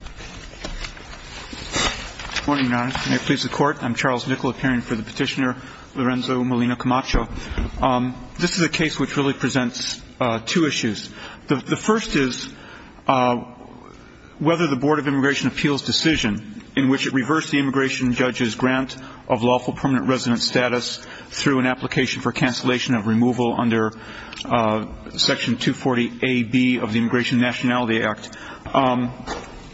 This is a case which really presents two issues. The first is whether the Board of Immigration Appeals decision in which it reversed the immigration judge's grant of lawful permanent resident status through an application for cancellation of removal under section 240 A.B. of the Immigration Nationality Act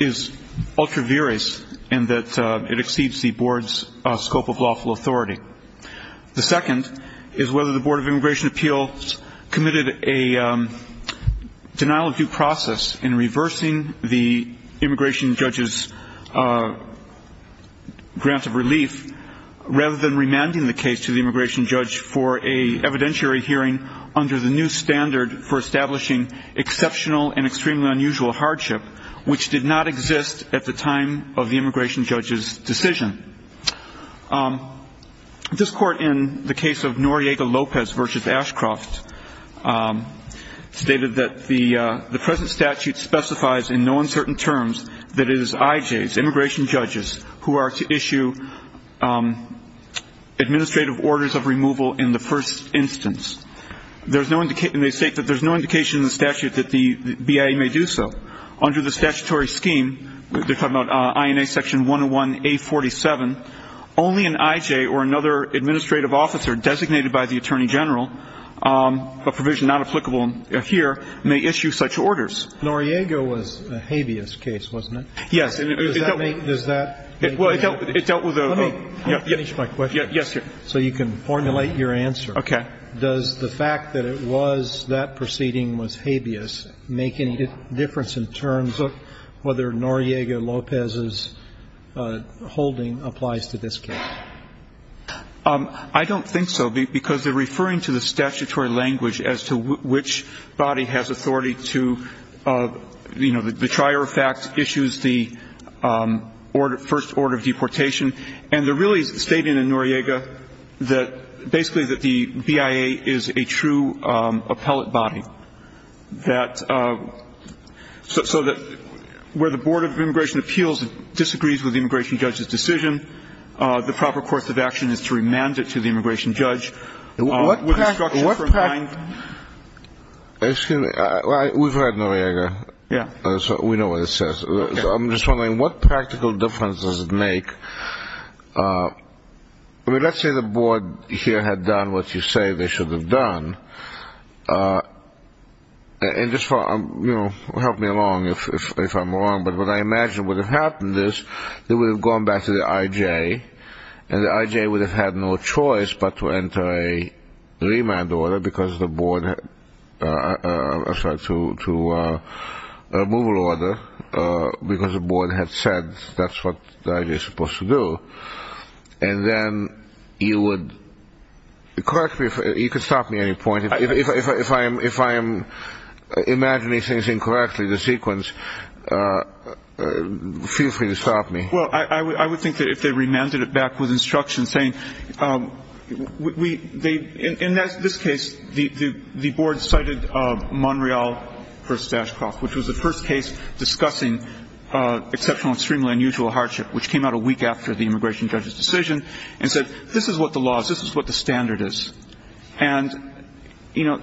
is ultra-various in that it exceeds the Board's scope of lawful authority. The second is whether the Board of Immigration Appeals committed a denial of due process in reversing the immigration judge's grant of relief rather than remanding the case to the immigration judge for an evidentiary hearing under the new standard for establishing exceptional and extremely unusual hardship which did not exist at the time of the immigration judge's decision. This court in the case of Noriega-Lopez v. Ashcroft stated that the present statute specifies in no uncertain terms that it is IJs, immigration judges, who are to issue administrative orders of removal in the first instance. There's no indication in the statute that the BIA may do so. Under the statutory scheme, they're talking about INA section 101A47, only an IJ or another administrative officer designated by the Attorney General, a provision not applicable here, may issue such orders. Noriega was a habeas case, wasn't it? Yes. Does that make any sense? Well, it dealt with a ‑‑ Let me finish my question so you can formulate your answer. Okay. Does the fact that it was ‑‑ that proceeding was habeas make any difference in terms of whether Noriega-Lopez's holding applies to this case? I don't think so, because they're referring to the statutory language as to which body has authority to, you know, the trier of facts issues the first order of deportation. And they're really stating in Noriega that basically the BIA is a true appellate body. So that where the Board of Immigration Appeals disagrees with the immigration judge's decision, the proper course of action is to remand it to the immigration judge with instructions for a fine. Excuse me. We've read Noriega, so we know what it says. I'm just wondering, what practical difference does it make? I mean, let's say the board here had done what you say they should have done. And just for, you know, help me along if I'm wrong, but what I imagine would have happened is they would have gone back to the IJ, and the IJ would have had no choice but to enter a remand order because the board had ‑‑ I'm sorry, to a removal order because the board had said that's what the IJ is supposed to do. And then you would ‑‑ correct me if ‑‑ you can stop me at any point. If I am imagining things incorrectly, the sequence, feel free to stop me. Well, I would think that if they remanded it back with instructions saying ‑‑ in this case, the board cited Monreal v. Ashcroft, which was the first case discussing exceptional and extremely unusual hardship, which came out a week after the immigration judge's decision, and said this is what the law is, this is what the standard is. And, you know,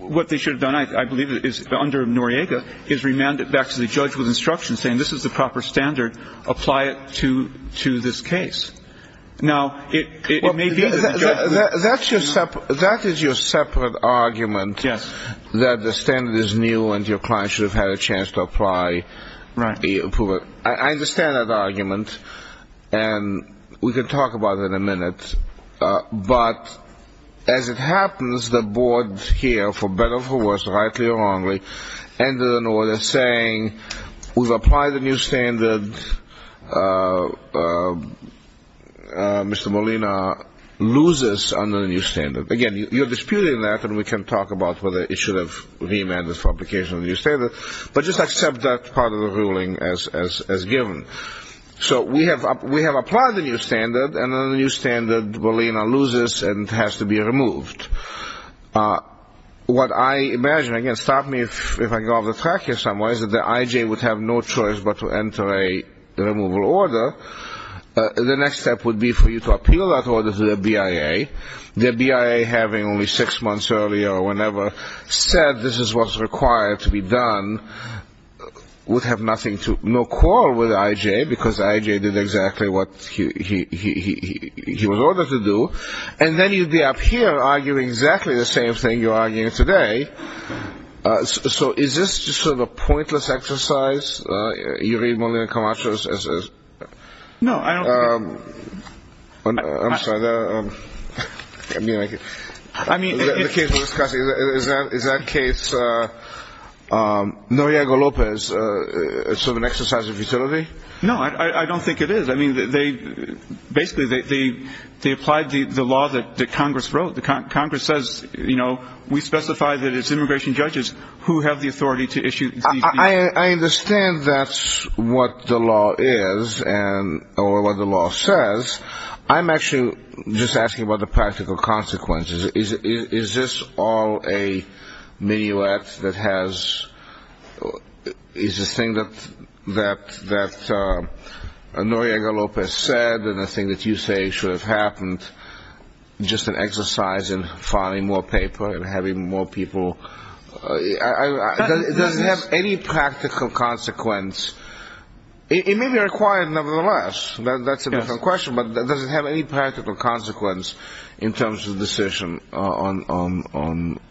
what they should have done, I believe, under Noriega is remand it back to the judge with instructions saying this is the proper standard, apply it to this case. Now, it may be that ‑‑ That is your separate argument that the standard is new and your client should have had a chance to apply the approver. I understand that argument. And we can talk about it in a minute. But as it happens, the board here, for better or for worse, rightly or wrongly, ended an order saying we've applied the new standard. Mr. Molina loses under the new standard. Again, you're disputing that and we can talk about whether it should have been remanded for application of the new standard, but just accept that part of the ruling as given. So we have applied the new standard, and under the new standard, Molina loses and has to be removed. What I imagine, again, stop me if I go off the track here somewhere, is that the IJ would have no choice but to enter a removal order. The next step would be for you to appeal that order to the BIA, the BIA having only six months earlier or whenever said this is what's required to be done, would have nothing to, no quarrel with IJ, because IJ did exactly what he was ordered to do. And then you'd be up here arguing exactly the same thing you're arguing today. So is this just sort of a pointless exercise? You read Molina Camacho as... No, I don't think... I'm sorry. I mean, the case we're discussing, is that case that Noriego Lopez is sort of an exercise of utility? No, I don't think it is. I mean, they basically, they applied the law that Congress wrote. Congress says, you know, we specify that it's immigration judges who have the authority to issue these... I understand that's what the law is, or what the law says. I'm actually just asking about the practical consequences. Is this all a minuet that has, is the thing that Noriego Lopez said and the thing that you say should have happened just an exercise in filing more paper and having more people... Does it have any practical consequence? It may be required, nevertheless. That's a different decision on the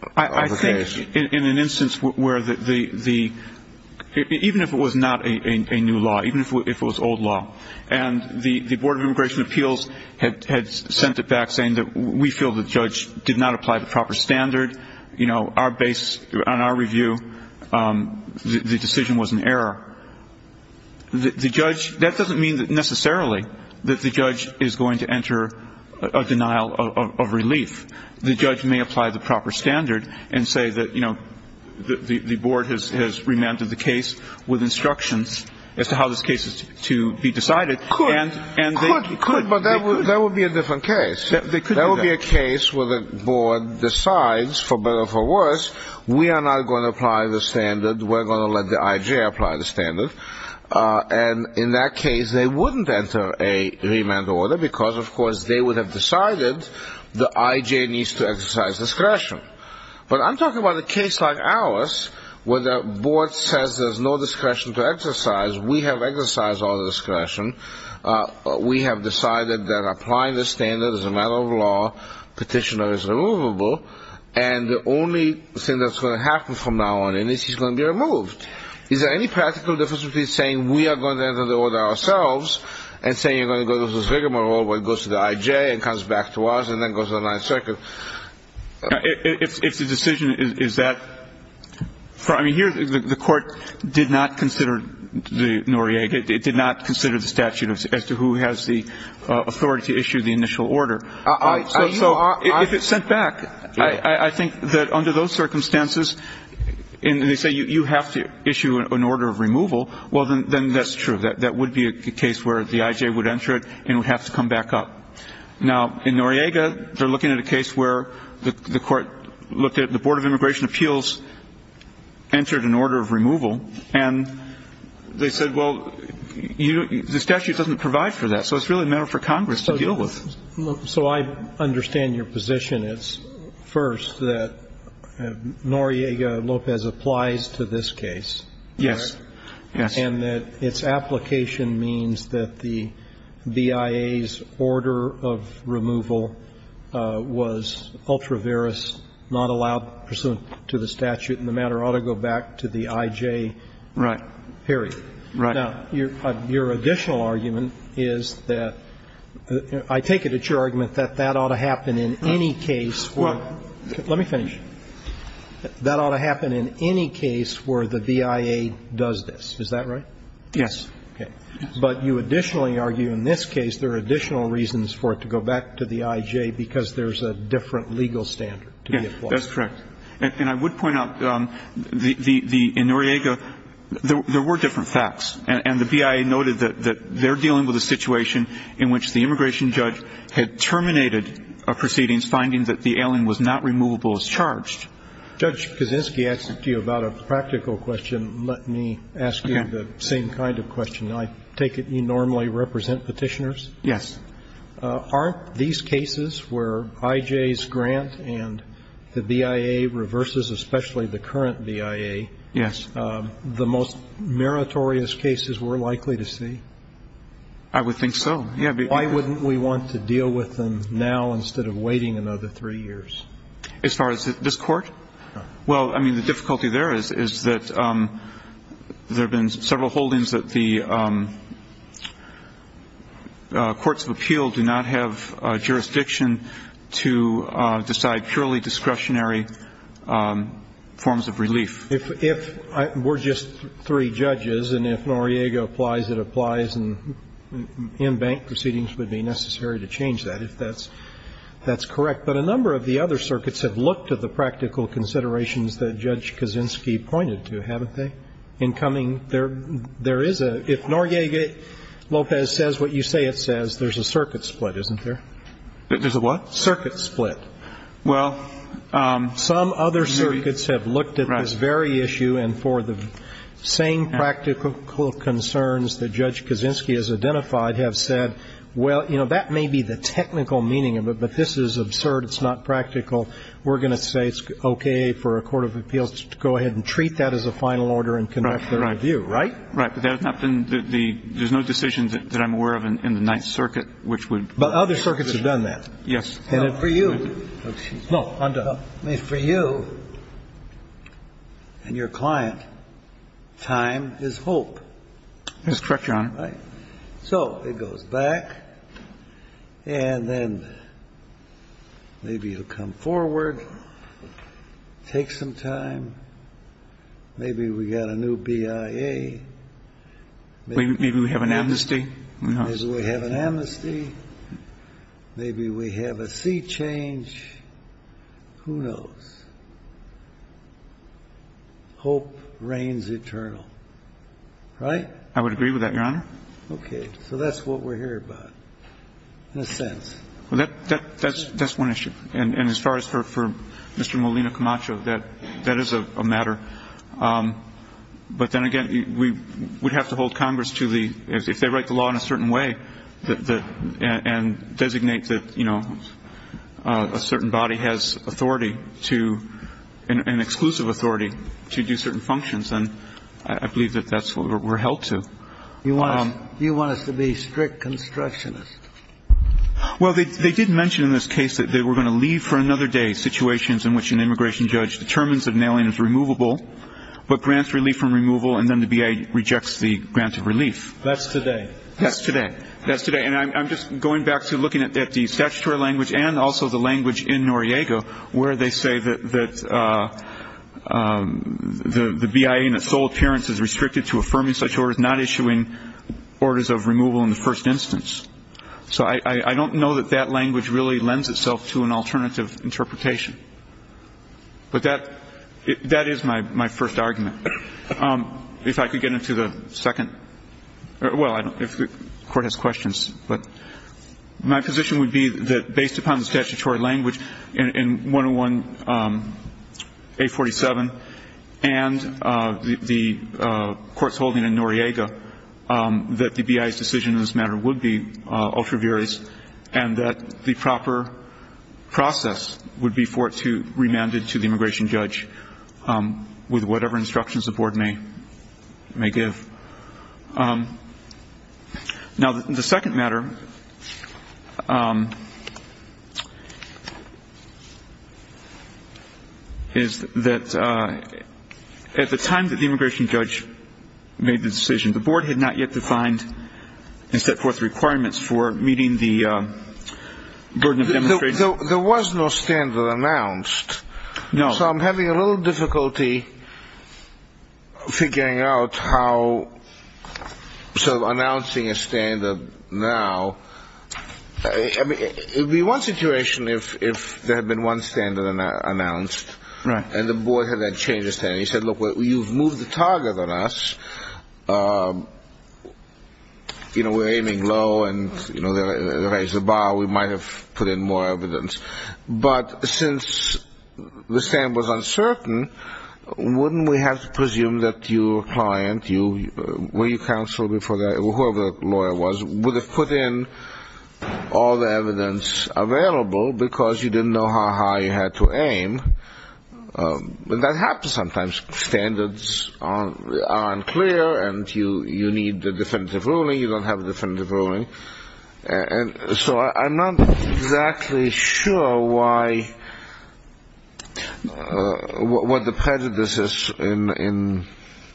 case. I think in an instance where the, even if it was not a new law, even if it was old law, and the Board of Immigration Appeals had sent it back saying that we feel the judge did not apply the proper standard, you know, our base, on our review, the decision was an error. The judge, that doesn't mean that necessarily that the judge is going to apply the proper standard and say that, you know, the Board has remanded the case with instructions as to how this case is to be decided. Could, could, but that would be a different case. There would be a case where the Board decides, for better or for worse, we are not going to apply the standard. We're going to let the IJ apply the standard. And in that case, they wouldn't enter a remand order because, of course, they would have decided the IJ needs to exercise discretion. But I'm talking about a case like ours where the Board says there's no discretion to exercise. We have exercised our discretion. We have decided that applying the standard is a matter of law. Petitioner is removable. And the only thing that's going to happen from now on is he's going to be removed. Is there any practical difference between saying we are going to enter the order ourselves and saying you're going to have to issue an order of removal, and then the IJ goes back to us and then goes to the Ninth Circuit? If the decision is that, I mean, here, the Court did not consider the Noriega. It did not consider the statute as to who has the authority to issue the initial order. So if it's sent back, I think that under those circumstances, and they say you have to issue an order of removal, well, then that's true. That would be a case where the IJ would enter it, and it would have to come back up. Now, in Noriega, they're looking at a case where the Court looked at the Board of Immigration Appeals entered an order of removal, and they said, well, the statute doesn't provide for that. So it's really a matter for Congress to deal with. So I understand your position. It's, first, that Noriega-Lopez applies to this case. Yes. Yes. And that its application means that the BIA's order of removal was ultra veris, not allowed pursuant to the statute, and the matter ought to go back to the IJ. Right. Period. Right. Now, your additional argument is that the – I take it it's your argument that that ought to happen in any case where – let me finish. That ought to happen in any case where the BIA does this. Is that right? Yes. Okay. But you additionally argue in this case there are additional reasons for it to go back to the IJ because there's a different legal standard to be applied. Yes. That's correct. And I would point out the – in Noriega, there were different facts. And the BIA noted that they're dealing with a situation in which the immigration judge had terminated a proceedings finding that the ailing was not removable as charged. Judge Kaczynski asked it to you about a practical question. Let me ask you the same kind of question. I take it you normally represent Petitioners? Yes. Aren't these cases where IJ's grant and the BIA reverses especially the current BIA the most meritorious cases we're likely to see? I would think so. Why wouldn't we want to deal with them now instead of waiting another three years? As far as this Court? Well, I mean, the difficulty there is that there have been several holdings that the courts of appeal do not have jurisdiction to decide purely discretionary forms of relief. If we're just three judges and if Noriega applies, it applies, and in-bank proceedings would be necessary to change that, if that's correct. But a number of the other circuits have looked at the practical considerations that Judge Kaczynski pointed to, haven't they? In coming, there is a – if Noriega-Lopez says what you say it says, there's a circuit split, isn't there? There's a what? Circuit split. Well, maybe you're right. Some other circuits have looked at this very issue and for the same practical concerns that Judge Kaczynski has identified have said, well, you know, that may be the technical meaning of it, but this is absurd, it's not practical. We're going to say it's okay for a court of appeals to go ahead and treat that as a final order and conduct their review, right? Right. But that has not been the – there's no decision that I'm aware of in the Ninth Circuit which would – But other circuits have done that. Yes. And for you – no, on to – for you and your client, time is hope. That's correct, Your Honor. So it goes back and then maybe it'll come forward, take some time, maybe we got a new BIA, maybe we have an amnesty, maybe we have a sea change, who knows? Hope reigns eternal, right? I would agree with that, Your Honor. Okay. So that's what we're hearing about, in a sense. Well, that's one issue. And as far as for Mr. Molina Camacho, that is a matter. But then again, we would have to hold Congress to the – if they write the law in a certain way and designate that, you know, a certain body has authority to – an exclusive authority to do certain functions, and I believe that that's what we're held to. Do you want us to be strict constructionists? Well, they did mention in this case that they were going to leave for another day situations in which an immigration judge determines that an alien is removable but grants relief from removal and then the BIA rejects the grant of relief. That's today. That's today. That's today. And I'm just going back to looking at the statutory language and also the language in which the BIA in its sole appearance is restricted to affirming such orders, not issuing orders of removal in the first instance. So I don't know that that language really lends itself to an alternative interpretation. But that – that is my first argument. If I could get into the second – well, I don't – if the Court has questions. But my position would be that based upon the statutory language in 101-847 and the Court's holding in Noriega, that the BIA's decision in this matter would be ultra viris and that the proper process would be for it to – remanded to the immigration judge with whatever instructions the Board may – may give. Now, the second matter is that at the time that the immigration judge made the decision, the Board had not yet defined and set forth requirements for meeting the burden of demonstration. There was no standard announced. No. So I'm having a little difficulty figuring out how – sort of announcing a standard now. I mean, it would be one situation if – if there had been one standard announced. Right. And the Board had that change of standard. He said, look, you've moved the target on us. You know, we're aiming low and, you know, they raised the bar. We might have put in more evidence. But since the standard was uncertain, wouldn't we have to presume that your client, you – where you counseled before that, whoever the lawyer was, would have put in all the evidence available because you didn't know how high you had to aim? And that happens sometimes. Standards are unclear and you need a definitive ruling. You don't have a definitive ruling. And so I'm not exactly sure why – what the prejudices in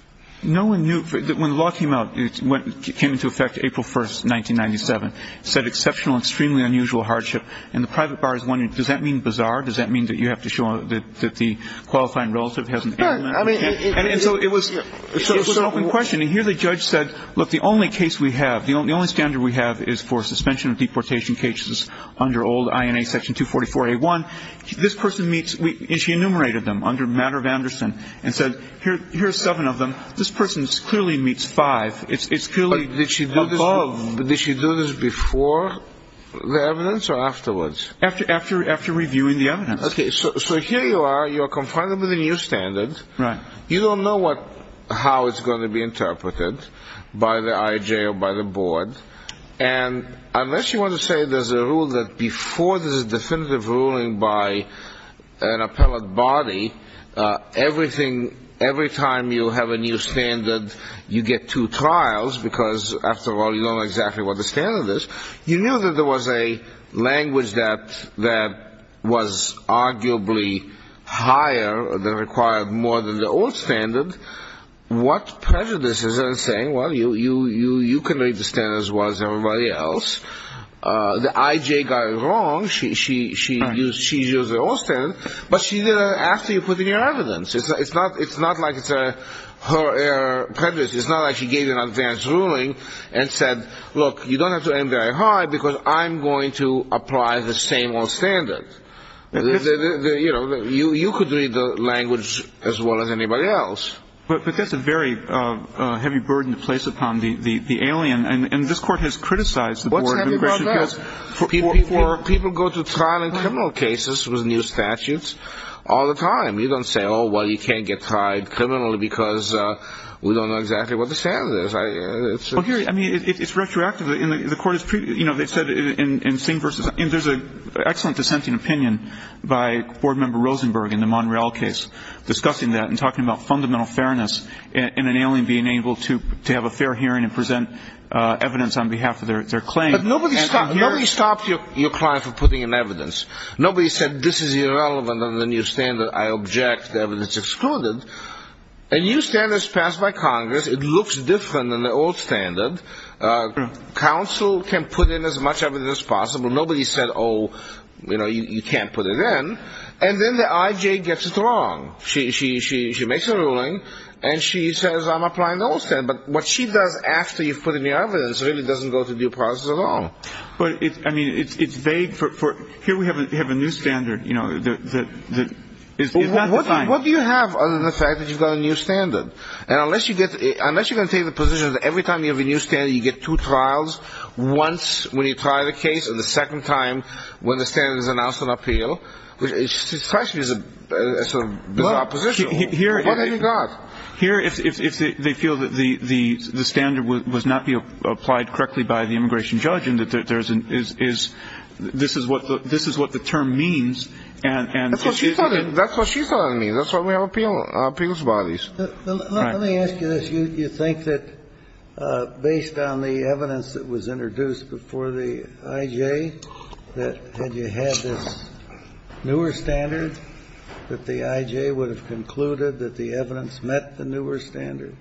– No one knew – when the law came out, it came into effect April 1st, 1997. It said exceptional, extremely unusual hardship. And the private bar is one. Does that mean bizarre? Does that mean that you have to show that the qualifying relative hasn't – No, I mean – And so it was – it was an open question. And here the judge said, look, the only case we have, the only standard we have is for suspension of deportation cases under old INA section 244A1. This person meets – and she enumerated them under matter of Anderson and said, here are seven of them. This person clearly meets five. It's clearly above – But did she do this before the evidence or afterwards? After reviewing the evidence. Okay, so here you are. You're confided with a new standard. Right. You don't know what – how it's going to be interpreted by the IJ or by the board. And unless you want to say there's a rule that before there's a definitive ruling by an appellate body, everything – every time you have a new standard, you get two trials, because after all, you don't know exactly what the standard is. You knew that there was a language that – that was arguably higher – that required more than the old standard. What prejudices are saying, well, you can read the standards as well as everybody else. The IJ got it wrong. She used the old standard. But she did it after you put in your evidence. It's not like it's her prejudice. It's not like she gave you an advanced ruling and said, look, you don't have to end very high because I'm going to apply the same old standard. You know, you could read the language as well as anybody else. But that's a very heavy burden to place upon the alien. And this court has criticized the board. What's heavy about that? People go to trial in criminal cases with new statutes all the time. You don't say, oh, well, you can't get tried criminally because we don't know exactly what the standard is. I mean, it's retroactive. And there's an excellent dissenting opinion by Board Member Rosenberg in the Monreal case discussing that and talking about fundamental fairness in an alien being able to have a fair hearing and present evidence on behalf of their claim. But nobody stopped your client from putting in evidence. Nobody said this is irrelevant under the new standard. I object. The evidence is excluded. A new standard is passed by Congress. It looks different than the old standard. Counsel can put in as much evidence as possible. Nobody said, oh, you know, you can't put it in. And then the IJ gets it wrong. She makes a ruling and she says, I'm applying the old standard. But what she does after you've put in your evidence really doesn't go to due process at all. But, I mean, it's vague. Here we have a new standard, you know, that is not defined. Well, what do you have other than the fact that you've got a new standard? And unless you can take the position that every time you have a new standard you get two trials, once when you try the case, and the second time when the standard is announced on appeal, it strikes me as a sort of bizarre position. What have you got? Here, if they feel that the standard was not applied correctly by the immigration judge and that this is what the term means. That's what she thought it means. That's why we have appeals bodies. Let me ask you this. You think that based on the evidence that was introduced before the IJ that had you had this newer standard, that the IJ would have concluded that the evidence met the newer standard?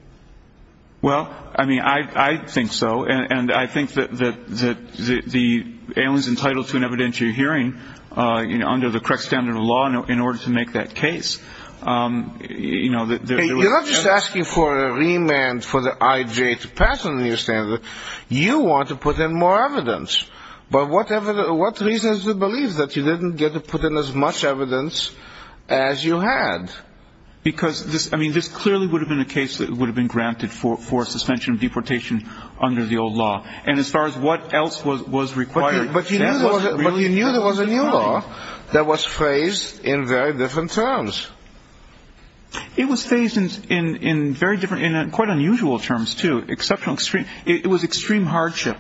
Well, I mean, I think so. And I think that the alien is entitled to an evidentiary hearing, you know, under the correct standard of law in order to make that case. You're not just asking for a remand for the IJ to pass on the new standard. You want to put in more evidence. But what reason is to believe that you didn't get to put in as much evidence as you had? Because, I mean, this clearly would have been a case that would have been granted for suspension of deportation under the old law. And as far as what else was required... But you knew there was a new law that was phrased in very different terms. It was phrased in very different, in quite unusual terms, too. Exceptional, extreme. It was extreme hardship.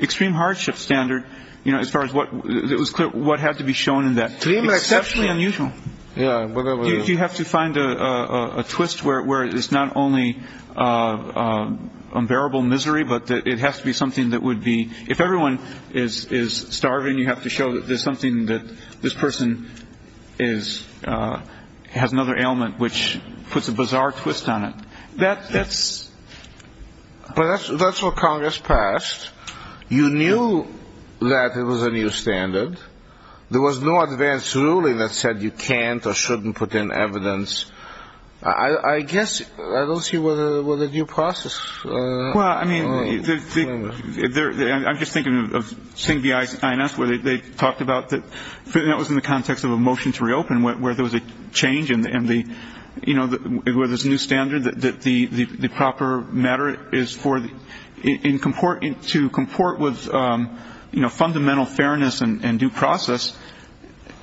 Extreme hardship standard, you know, as far as what... It was clear what had to be shown in that. Extremely exceptional. Exceptionally unusual. Yeah, whatever. You have to find a twist where it's not only unbearable misery, but it has to be something that would be... If everyone is starving, you have to show that there's something that this person has another ailment which puts a bizarre twist on it. That's... But that's what Congress passed. You knew that it was a new standard. There was no advance ruling that said you can't or shouldn't put in evidence. I guess, I don't see what the due process... That was in the context of a motion to reopen where there was a change and where there's a new standard that the proper matter is for... To comport with fundamental fairness and due process,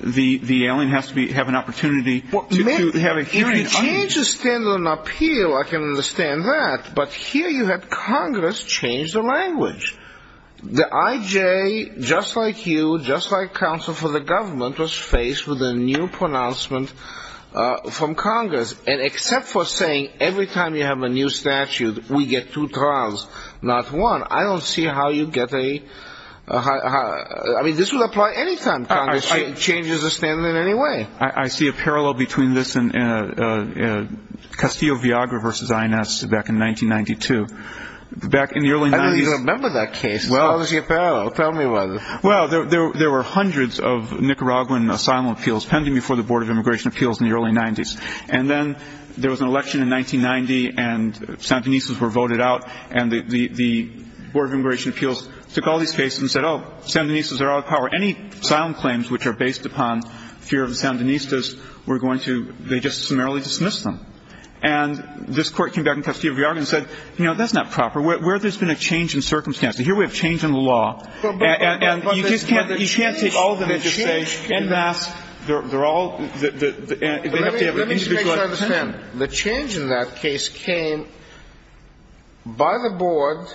the ailing has to have an opportunity to have a hearing... If you change the standard on appeal, I can understand that. But here you had Congress change the language. The IJ, just like you, just like counsel for the government, was faced with a new pronouncement from Congress. And except for saying, every time you have a new statute, we get two trials, not one. I don't see how you get a... I mean, this would apply any time Congress changes the standard in any way. I see a parallel between this and Castillo-Viagra versus INS back in 1992. Back in the early 90s... I don't even remember that case. Tell me about it. Well, there were hundreds of Nicaraguan asylum appeals pending before the Board of Immigration Appeals in the early 90s. And then there was an election in 1990 and Sandinistas were voted out. And the Board of Immigration Appeals took all these cases and said, oh, Sandinistas are out of power. Any asylum claims which are based upon fear of the Sandinistas, they just summarily dismissed them. And this court came back in Castillo-Viagra and said, you know, that's not proper. Where there's been a change in circumstances? Here we have change in the law. And you just can't take all of them and just say, en masse, they're all... Let me just make sure I understand. The change in that case came by the Board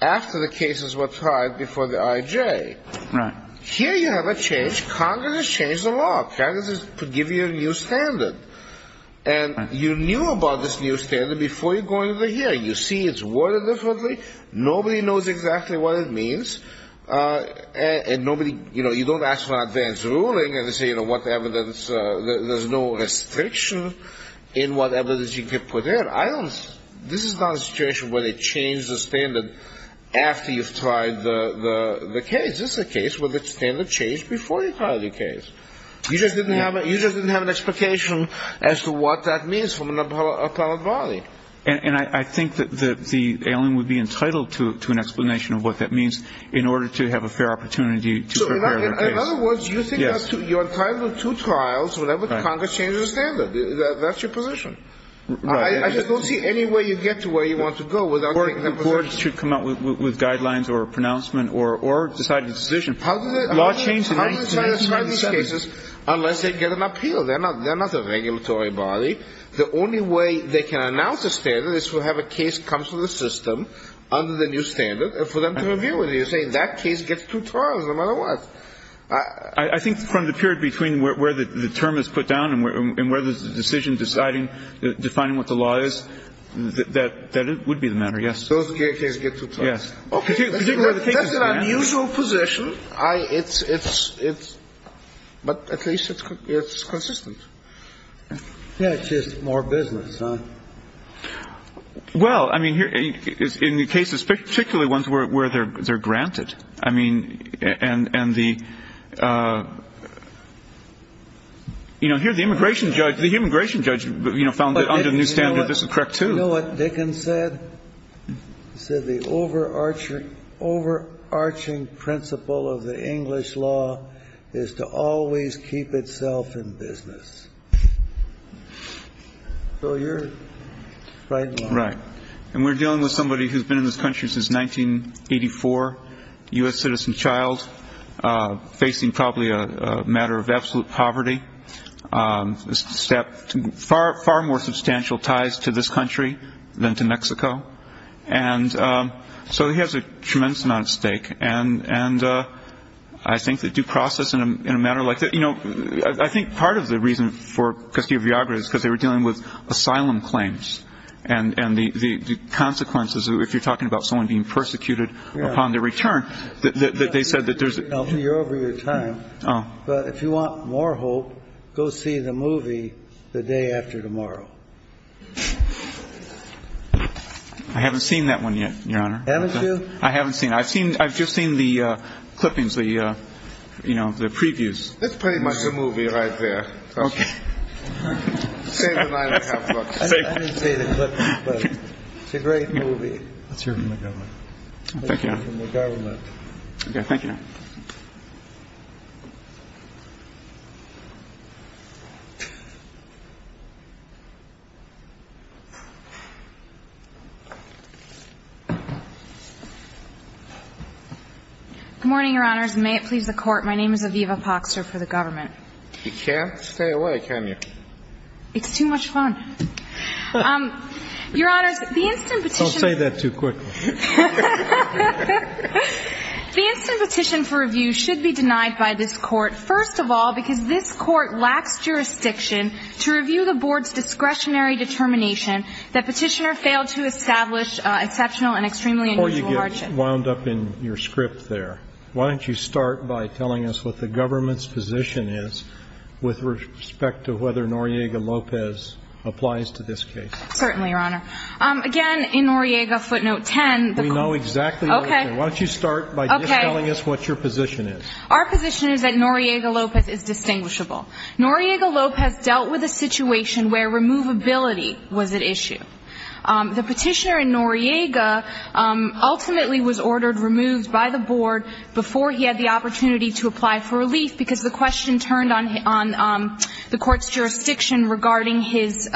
after the cases were tried before the IJ. Right. Here you have a change. Congress has changed the law. Congress has given you a new standard. And you knew about this new standard before you go into the hearing. You see it's worded differently. Nobody knows exactly what it means. And nobody... You know, you don't ask for an advance ruling and say, you know, what evidence... There's no restriction in what evidence you can put in. I don't... This is not a situation where they change the standard after you've tried the case. This is a case where the standard changed before you tried the case. You just didn't have an expectation as to what that means from an appellate body. And I think that the alien would be entitled to an explanation of what that means in order to have a fair opportunity to prepare their case. In other words, you're entitled to two trials whenever Congress changes the standard. That's your position. Right. I just don't see any way you get to where you want to go without taking that position. The Board should come out with guidelines or a pronouncement or decide a decision. How do they try to describe these cases unless they get an appeal? They're not a regulatory body. The only way they can announce a standard is to have a case come to the system under the new standard and for them to review it. You're saying that case gets two trials no matter what. I think from the period between where the term is put down and where the decision is deciding, defining what the law is, that would be the matter, yes. Those cases get two trials. That's an unusual position. But at least it's consistent. Yeah, it's just more business, huh? Well, I mean, in the cases, particularly ones where they're granted, I mean, and the immigration judge, the immigration judge found that under the new standard, this is correct, too. You know what Dickens said? He said the overarching principle of the English law is to always keep itself in business. So you're right in line. Right. And we're dealing with somebody who's been in this country since 1984, U.S. citizen child, facing probably a matter of absolute poverty, far more substantial ties to this country than to Mexico. And so he has a tremendous amount at stake. And I think the due process in a matter like that, you know, I think part of the reason for Custodia Viagra is because they were dealing with asylum claims and the consequences, if you're talking about someone being persecuted upon their return, that they said that there's... Alfie, you're over your time. But if you want more hope, go see the movie The Day After Tomorrow. I haven't seen that one yet, Your Honor. Haven't you? I haven't seen it. I've just seen the clippings, the, you know, the previews. That's pretty much the movie right there. Okay. Save the nine and a half bucks. I didn't see the clippings, but it's a great movie. Let's hear from the government. Thank you. Let's hear from the government. Okay. Thank you. Good morning, Your Honors. May it please the Court. My name is Aviva Poxer for the government. You can't stay away, can you? It's too much fun. Your Honors, the instant petition... Don't say that too quickly. Your Honor, the instant petition... Don't say that too quickly. First of all, because this Court lacks jurisdiction to review the Board's discretionary determination that Petitioner failed to establish exceptional and extremely unusual hardship. Before you get wound up in your script there, why don't you start by telling us what the government's position is with respect to whether Noriega-Lopez applies to this case? Certainly, Your Honor. Again, in Noriega footnote 10... We know exactly what... Okay. Why don't you start by just telling us what your position is? Our position is that Noriega-Lopez is distinguishable. Noriega-Lopez dealt with a situation where removability was at issue. The Petitioner in Noriega ultimately was ordered removed by the Board before he had the opportunity to apply for relief because the question turned on the Court's jurisdiction based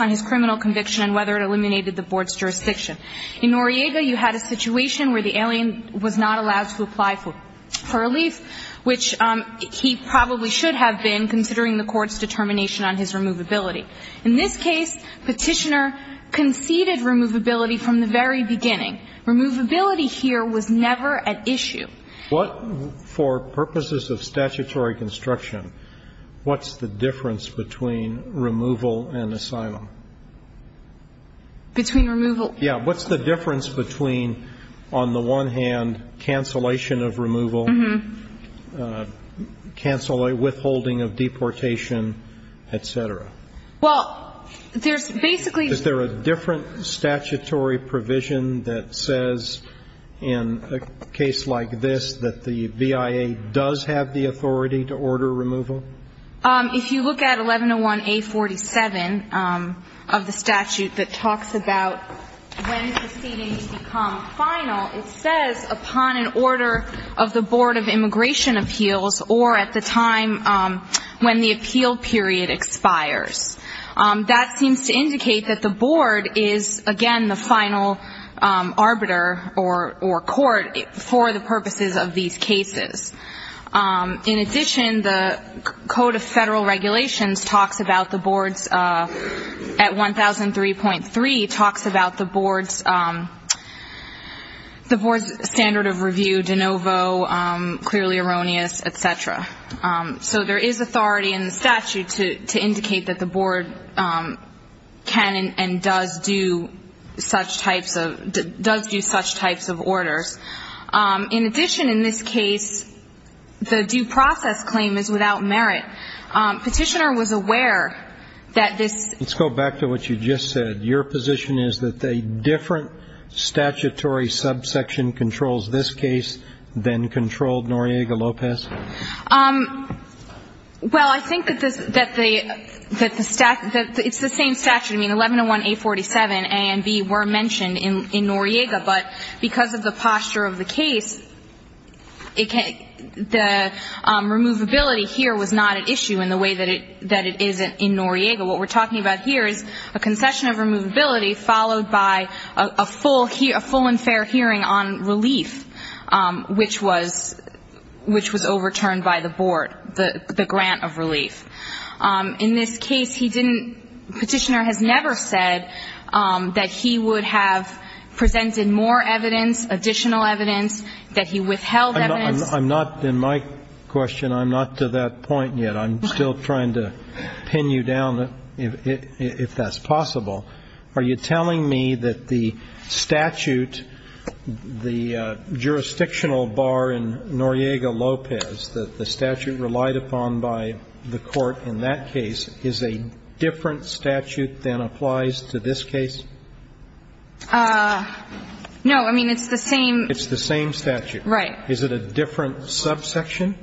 on his criminal conviction and whether it eliminated the Board's jurisdiction. In Noriega, you had a situation where the alien was not allowed to apply for relief, which he probably should have been considering the Court's determination on his removability. In this case, Petitioner conceded removability from the very beginning. Removability here was never at issue. What, for purposes of statutory construction, what's the difference between removal and asylum? Between removal... Yeah, what's the difference between, on the one hand, cancellation of removal, withholding of deportation, etc.? Well, there's basically... Is there a different statutory provision that says, in a case like this, that the BIA does have the authority to order removal? If you look at 1101A47 of the statute that talks about when proceedings become final, it says, upon an order of the Board of Immigration Appeals or at the time when the appeal period expires. That seems to indicate that the Board is, again, the final arbiter or court for the purposes of these cases. In addition, the Code of Federal Regulations talks about the Board's, at 1003.3, talks about the Board's standard of review, de novo, clearly erroneous, etc. So there is authority in the statute to indicate that the Board can and does do such types of orders. In addition, in this case, the due process claim is without merit. Petitioner was aware that this... Let's go back to what you just said. Your position is that a different statutory subsection controls this case than controlled Noriega-Lopez? Well, I think that it's the same statute. I mean, 1101A47A and B were mentioned in Noriega, but because of the posture of the case, the removability here was not at issue in the way that it is in Noriega. What we're talking about here is a concession of removability followed by a full and fair hearing on relief, which was overturned by the Board, the grant of relief. In this case, Petitioner has never said that he would have presented more evidence, additional evidence, that he withheld evidence. I'm not, in my question, I'm not to that point yet. I'm still trying to pin you down, if that's possible. Are you telling me that the statute, the jurisdictional bar in Noriega-Lopez, the statute relied upon by the Court in that case, is a different statute than applies to this case? No. I mean, it's the same. It's the same statute. Right. Is it a different subsection?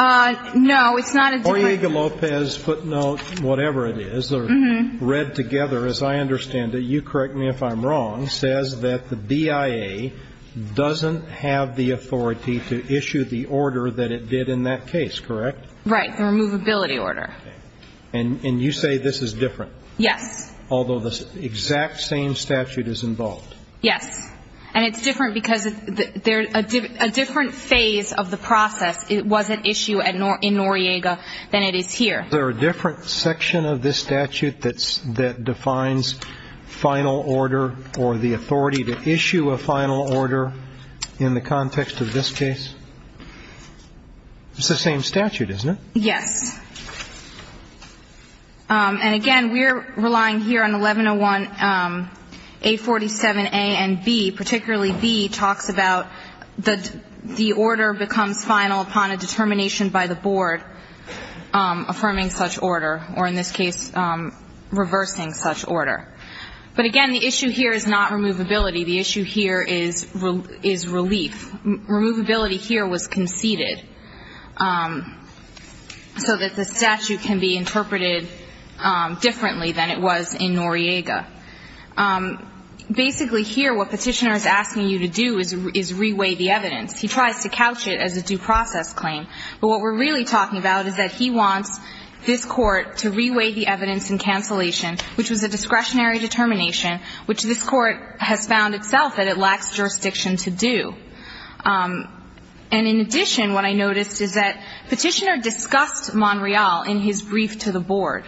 No, it's not a different. Noriega-Lopez footnote, whatever it is, read together, as I understand it, you correct me if I'm wrong, says that the BIA doesn't have the authority to issue the order that it did in that case, correct? Right, the Removability Order. And you say this is different? Yes. Although the exact same statute is involved? Yes. And it's different because a different phase of the process was at issue in Noriega than it is here. Is there a different section of this statute that defines final order or the authority to issue a final order in the context of this case? It's the same statute, isn't it? Yes. And again, we're relying here on 1101A47A and B. Particularly B talks about the order becomes final upon a determination by the board affirming such order, or in this case, reversing such order. But again, the issue here is not removability. The issue here is relief. Removability here was conceded so that the statute can be interpreted differently than it was in Noriega. Basically here, what petitioner is asking you to do is reweigh the evidence. He tries to couch it as a due process claim. But what we're really talking about is that he wants this court to reweigh the evidence in cancellation, which was a discretionary determination, which this court has found itself that it lacks jurisdiction to do. And in addition, what I noticed is that petitioner discussed Monreal in his brief to the board.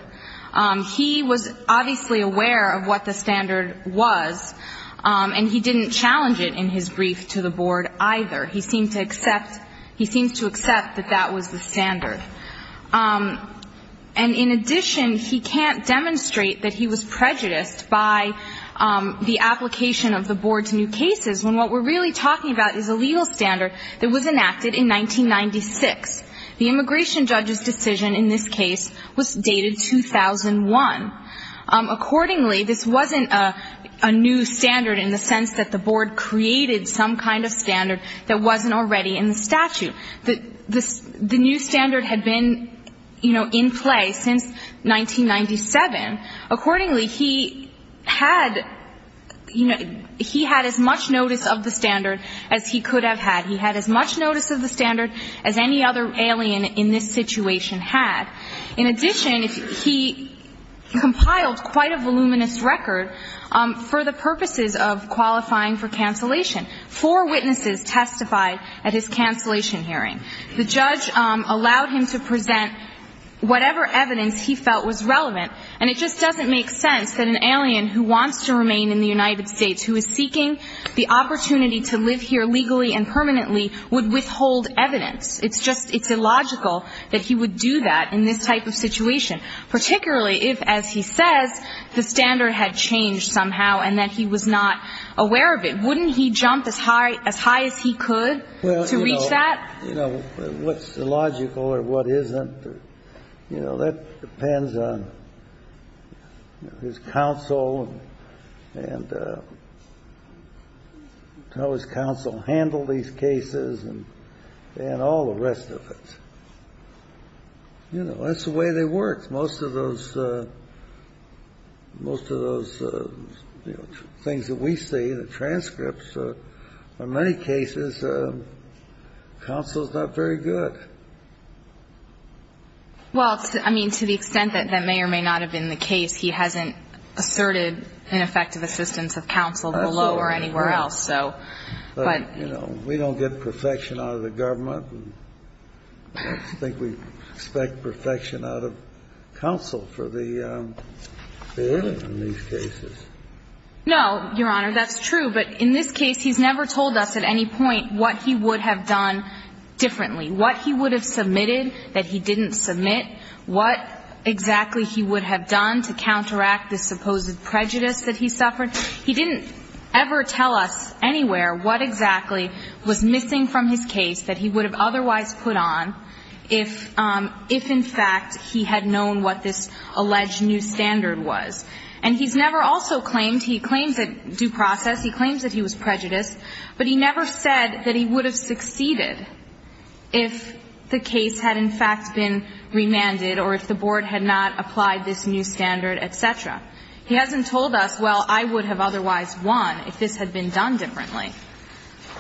He was obviously aware of what the standard was, and he didn't challenge it in his brief to the board either. He seems to accept that that was the standard. And in addition, he can't demonstrate that he was prejudiced by the application of the board to new cases when what we're really talking about is a legal standard that was enacted in 1996. The immigration judge's decision in this case was dated 2001. Accordingly, this wasn't a new standard in the sense that the board created some kind of standard that wasn't already in the statute. The new standard had been in play since 1997, and accordingly, he had as much notice of the standard as he could have had. He had as much notice of the standard as any other alien in this situation had. In addition, he compiled quite a voluminous record for the purposes of qualifying for cancellation. Four witnesses testified at his cancellation hearing. The judge allowed him to present whatever evidence he felt was relevant, and it just doesn't make sense that an alien who wants to remain in the United States, who is seeking the opportunity to live here legally and permanently, would withhold evidence. It's illogical that he would do that in this type of situation, particularly if, as he says, the standard had changed somehow and that he was not aware of it. Wouldn't he jump as high as he could to reach that? You know, what's illogical or what isn't, that depends on his counsel and how his counsel handled these cases and all the rest of it. You know, that's the way they worked. Most of those things that we see, the transcripts, in many cases, counsel's not very good. Well, I mean, to the extent that that may or may not have been the case, he hasn't asserted an effective assistance of counsel below or anywhere else. But, you know, we don't get perfection out of the government. I don't think we expect perfection out of counsel for the alien in these cases. No, Your Honor, that's true. But in this case, he's never told us at any point what he would have done differently, what he would have submitted that he didn't submit, what exactly he would have done to counteract the supposed prejudice that he suffered. He didn't ever tell us anywhere what exactly was missing from his case that he would have otherwise put on if in fact he had known what this alleged new standard was. And he's never also claimed, he claims that due process, he claims that he was prejudiced, but he never said that he would have succeeded if the case had in fact been remanded or if the board had not applied this new standard, et cetera. He hasn't told us, well, I would have otherwise won if this had been done differently.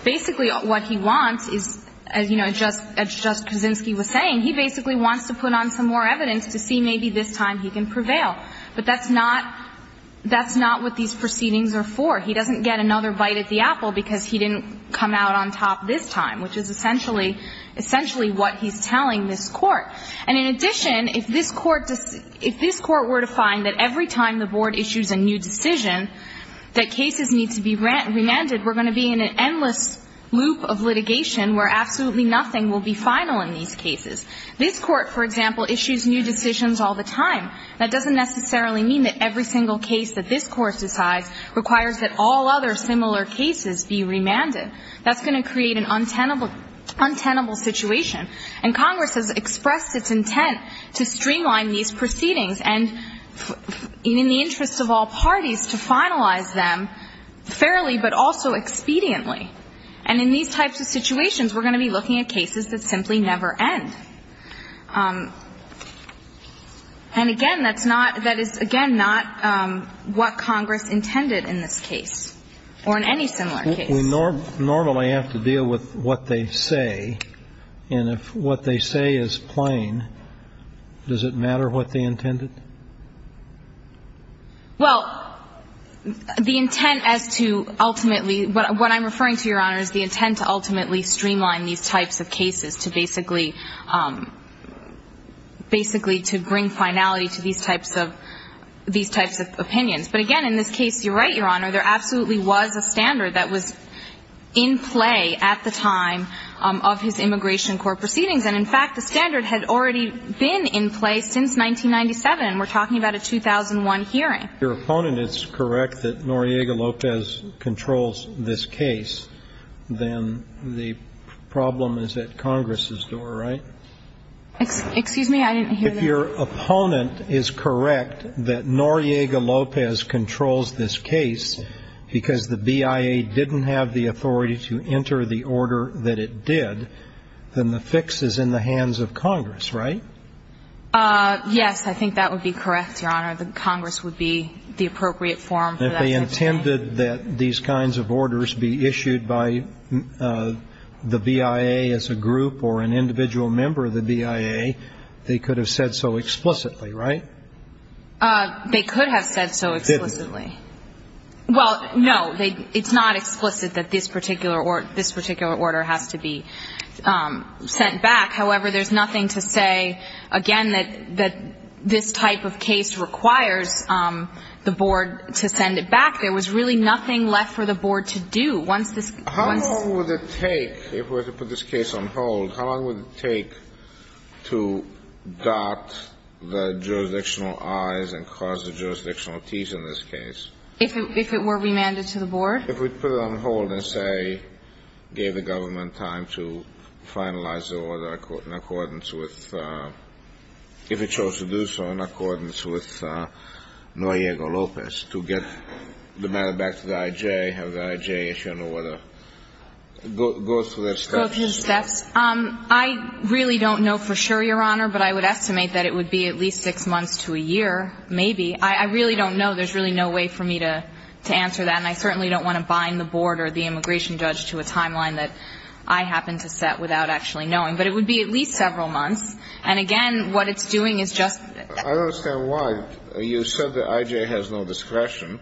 Basically, what he wants is, as, you know, as Justice Kaczynski was saying, he basically wants to put on some more evidence to see maybe this time he can prevail. But that's not what these proceedings are for. He doesn't get another bite at the apple because he didn't come out on top this time, which is essentially what he's telling this court. And in addition, if this court were to find that every time the board issues a new decision that cases need to be remanded, we're going to be in an endless loop of litigation where absolutely nothing will be final in these cases. This court, for example, issues new decisions all the time. That doesn't necessarily mean that every single case that this court decides requires that all other similar cases be remanded. That's going to create an untenable situation. And Congress has expressed its intent to streamline these proceedings and, in the interest of all parties, to finalize them fairly but also expediently. And in these types of situations, we're going to be looking at cases that simply never end. And again, that's not, that is, again, not what Congress intended in this case or in any similar case. We normally have to deal with what they say. And if what they say is plain, does it matter what they intended? Well, the intent as to ultimately, what I'm referring to, Your Honor, is the intent to ultimately streamline these types of cases to basically, basically to bring finality to these types of opinions. But again, in this case, you're right, Your Honor, there absolutely was a standard that was in play at the time of his immigration court proceedings. And, in fact, the standard had already been in place since 1997. We're talking about a 2001 hearing. If your opponent is correct that Noriega-Lopez controls this case, then the problem is at Congress's door, right? Excuse me? I didn't hear that. If your opponent is correct that Noriega-Lopez controls this case because the BIA didn't have the authority to enter the order that it did, then the fix is in the hands of Congress, right? Yes, I think that would be correct, Your Honor. Congress would be the appropriate forum for that. If they intended that these kinds of orders be issued by the BIA as a group or an individual member of the BIA, they could have said so explicitly, right? They could have said so explicitly. Well, no, it's not explicit that this particular order has to be sent back. However, there's nothing to say again that this type of case requires the Board to send it back. There was really nothing left for the Board to do. How long would it take, if we were to put this case on hold, how long would it take to dot the jurisdictional I's and cross the jurisdictional T's in this case? If it were remanded to the Board? If we put it on hold and say, gave the government time to finalize the order in accordance with if it chose to do so in accordance with Noriega-Lopez to get the matter back to the IJ, have the IJ issue an order. Go through the steps. I really don't know for sure, Your Honor, but I would estimate that it would be at least six months to a year, maybe. I really don't know. There's really no way for me to answer that. And I certainly don't want to bind the Board or the immigration judge to a timeline that I happen to set without actually knowing. But it would be at least several months. And again, what it's doing is just... I don't understand why. You said the IJ has no discretion.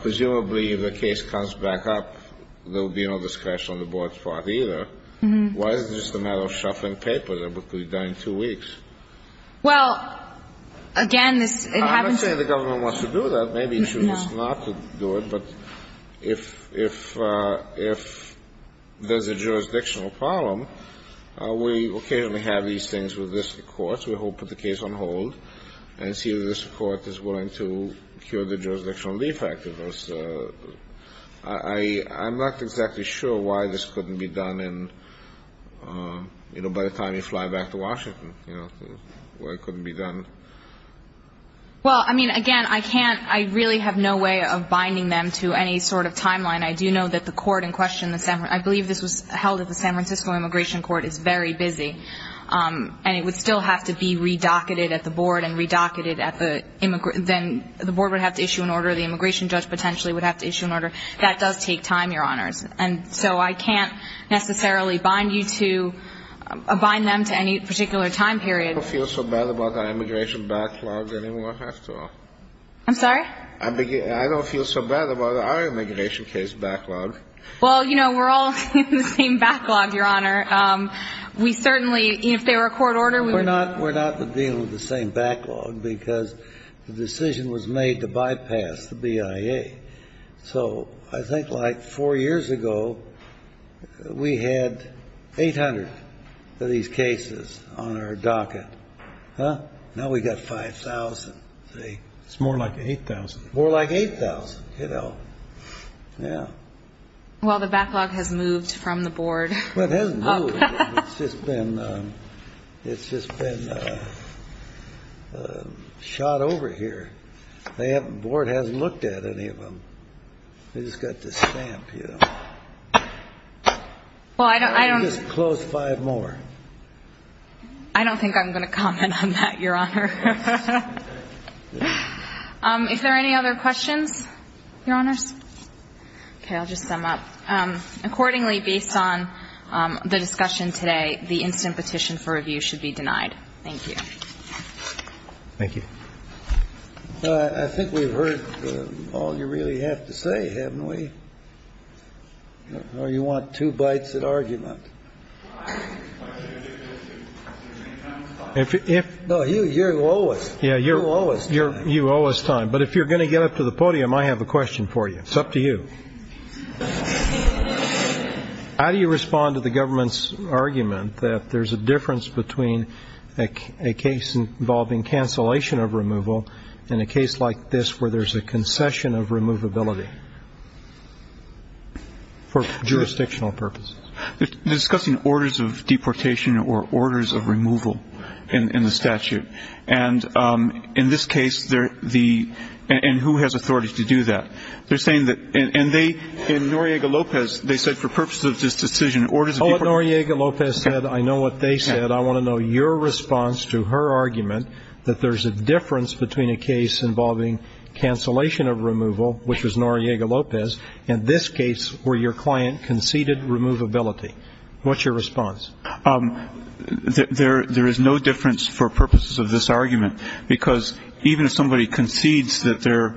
Presumably, if the case comes back up, there would be no discretion on the Board's part either. Why is it just a matter of shuffling papers? It would be done in two weeks. Well, again, this... I'm not saying the government wants to do that. Maybe it should just not do it. But if there's a jurisdictional problem, we occasionally have these things with this Court. We hope to put the case on hold and see if this Court is willing to cure the jurisdictional defect. I'm not exactly sure why this couldn't be done by the time you fly back to Washington. Why it couldn't be done. Well, again, I really have no way of binding them to any sort of timeline. I do know that the Court in question I believe this was held at the San Francisco Immigration Court is very busy. And it would still have to be re-docketed at the Board and re-docketed at the then the Board would have to issue an order, the immigration judge potentially would have to issue an order. That does take time, Your Honors. And so I can't necessarily bind you to bind them to any particular time period. I don't feel so bad about our immigration backlog anymore. I'm sorry? I don't feel so bad about our immigration case backlog. Well, you know, we're all in the same backlog, Your Honor. We certainly, if there were a court order... We're not in the same backlog because the decision was made to bypass the BIA. So I think like four years ago we had 800 of these cases on our docket. Now we've got 5,000. It's more like 8,000. More like 8,000. Well, the backlog has moved from the Board. Well, it hasn't moved. It's just been shot over here. The Board hasn't looked at any of them. They've just got this stamp, you know. Why don't you just close five more? I don't think I'm going to comment on that, Your Honor. Is there any other questions? Your Honors? Okay, I'll just sum up. Accordingly, based on the discussion today, the instant petition for review should be denied. Thank you. Thank you. I think we've heard all you really have to say, haven't we? Or you want two bites at argument? No, you owe us. You owe us time. But if you're going to get up to the podium, I have a question for you. It's up to you. How do you respond to the government's argument that there's a difference between a case involving cancellation of removal and a case like this where there's a concession of removability for jurisdictional purposes? Discussing orders of deportation or orders of removal in the statute. In this case, and who has authority to do that? In Noriega-Lopez, they said for purposes of this decision... I know what Noriega-Lopez said. I know what they said. I want to know your response to her argument that there's a difference between a case involving cancellation of removal, which was Noriega-Lopez, and this case where your client conceded removability. What's your response? There is no difference for purposes of this argument because even if somebody concedes that they're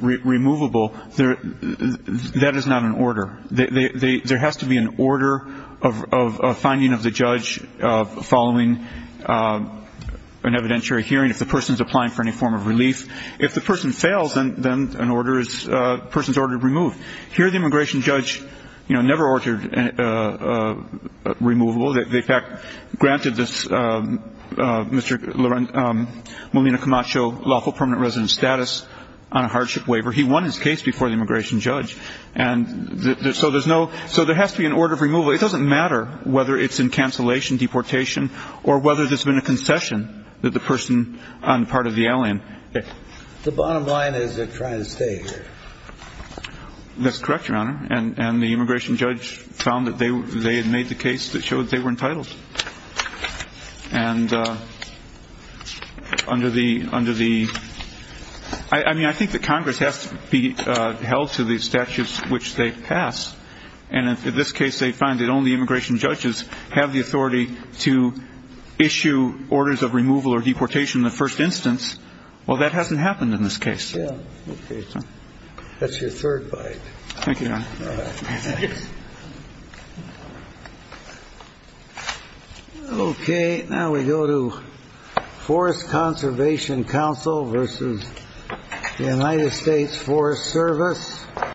removable, that is not an order. There has to be an order of finding of the judge following an evidentiary hearing if the person's applying for any form of relief. If the person fails, then the person's order is removed. Here, the immigration judge never ordered removal. They, in fact, granted Mr. Molina Camacho lawful permanent residence status on a hardship waiver. He won his case before the immigration judge. So there has to be an order of removal. It doesn't matter whether it's in cancellation, deportation, or whether there's been a concession that the person on the part of the alien... The bottom line is they're trying to stay here. That's correct, Your Honor. And the immigration judge found that they had made the case that showed they were entitled. And under the... I mean, I think that Congress has to be held to the statutes which they pass. And in this case, they find that only immigration judges have the authority to issue orders of removal or deportation in the first instance. Well, that hasn't happened in this case. That's your third bite. Thank you, Your Honor. Okay, now we go to Forest Conservation Council versus the United States Forest Service.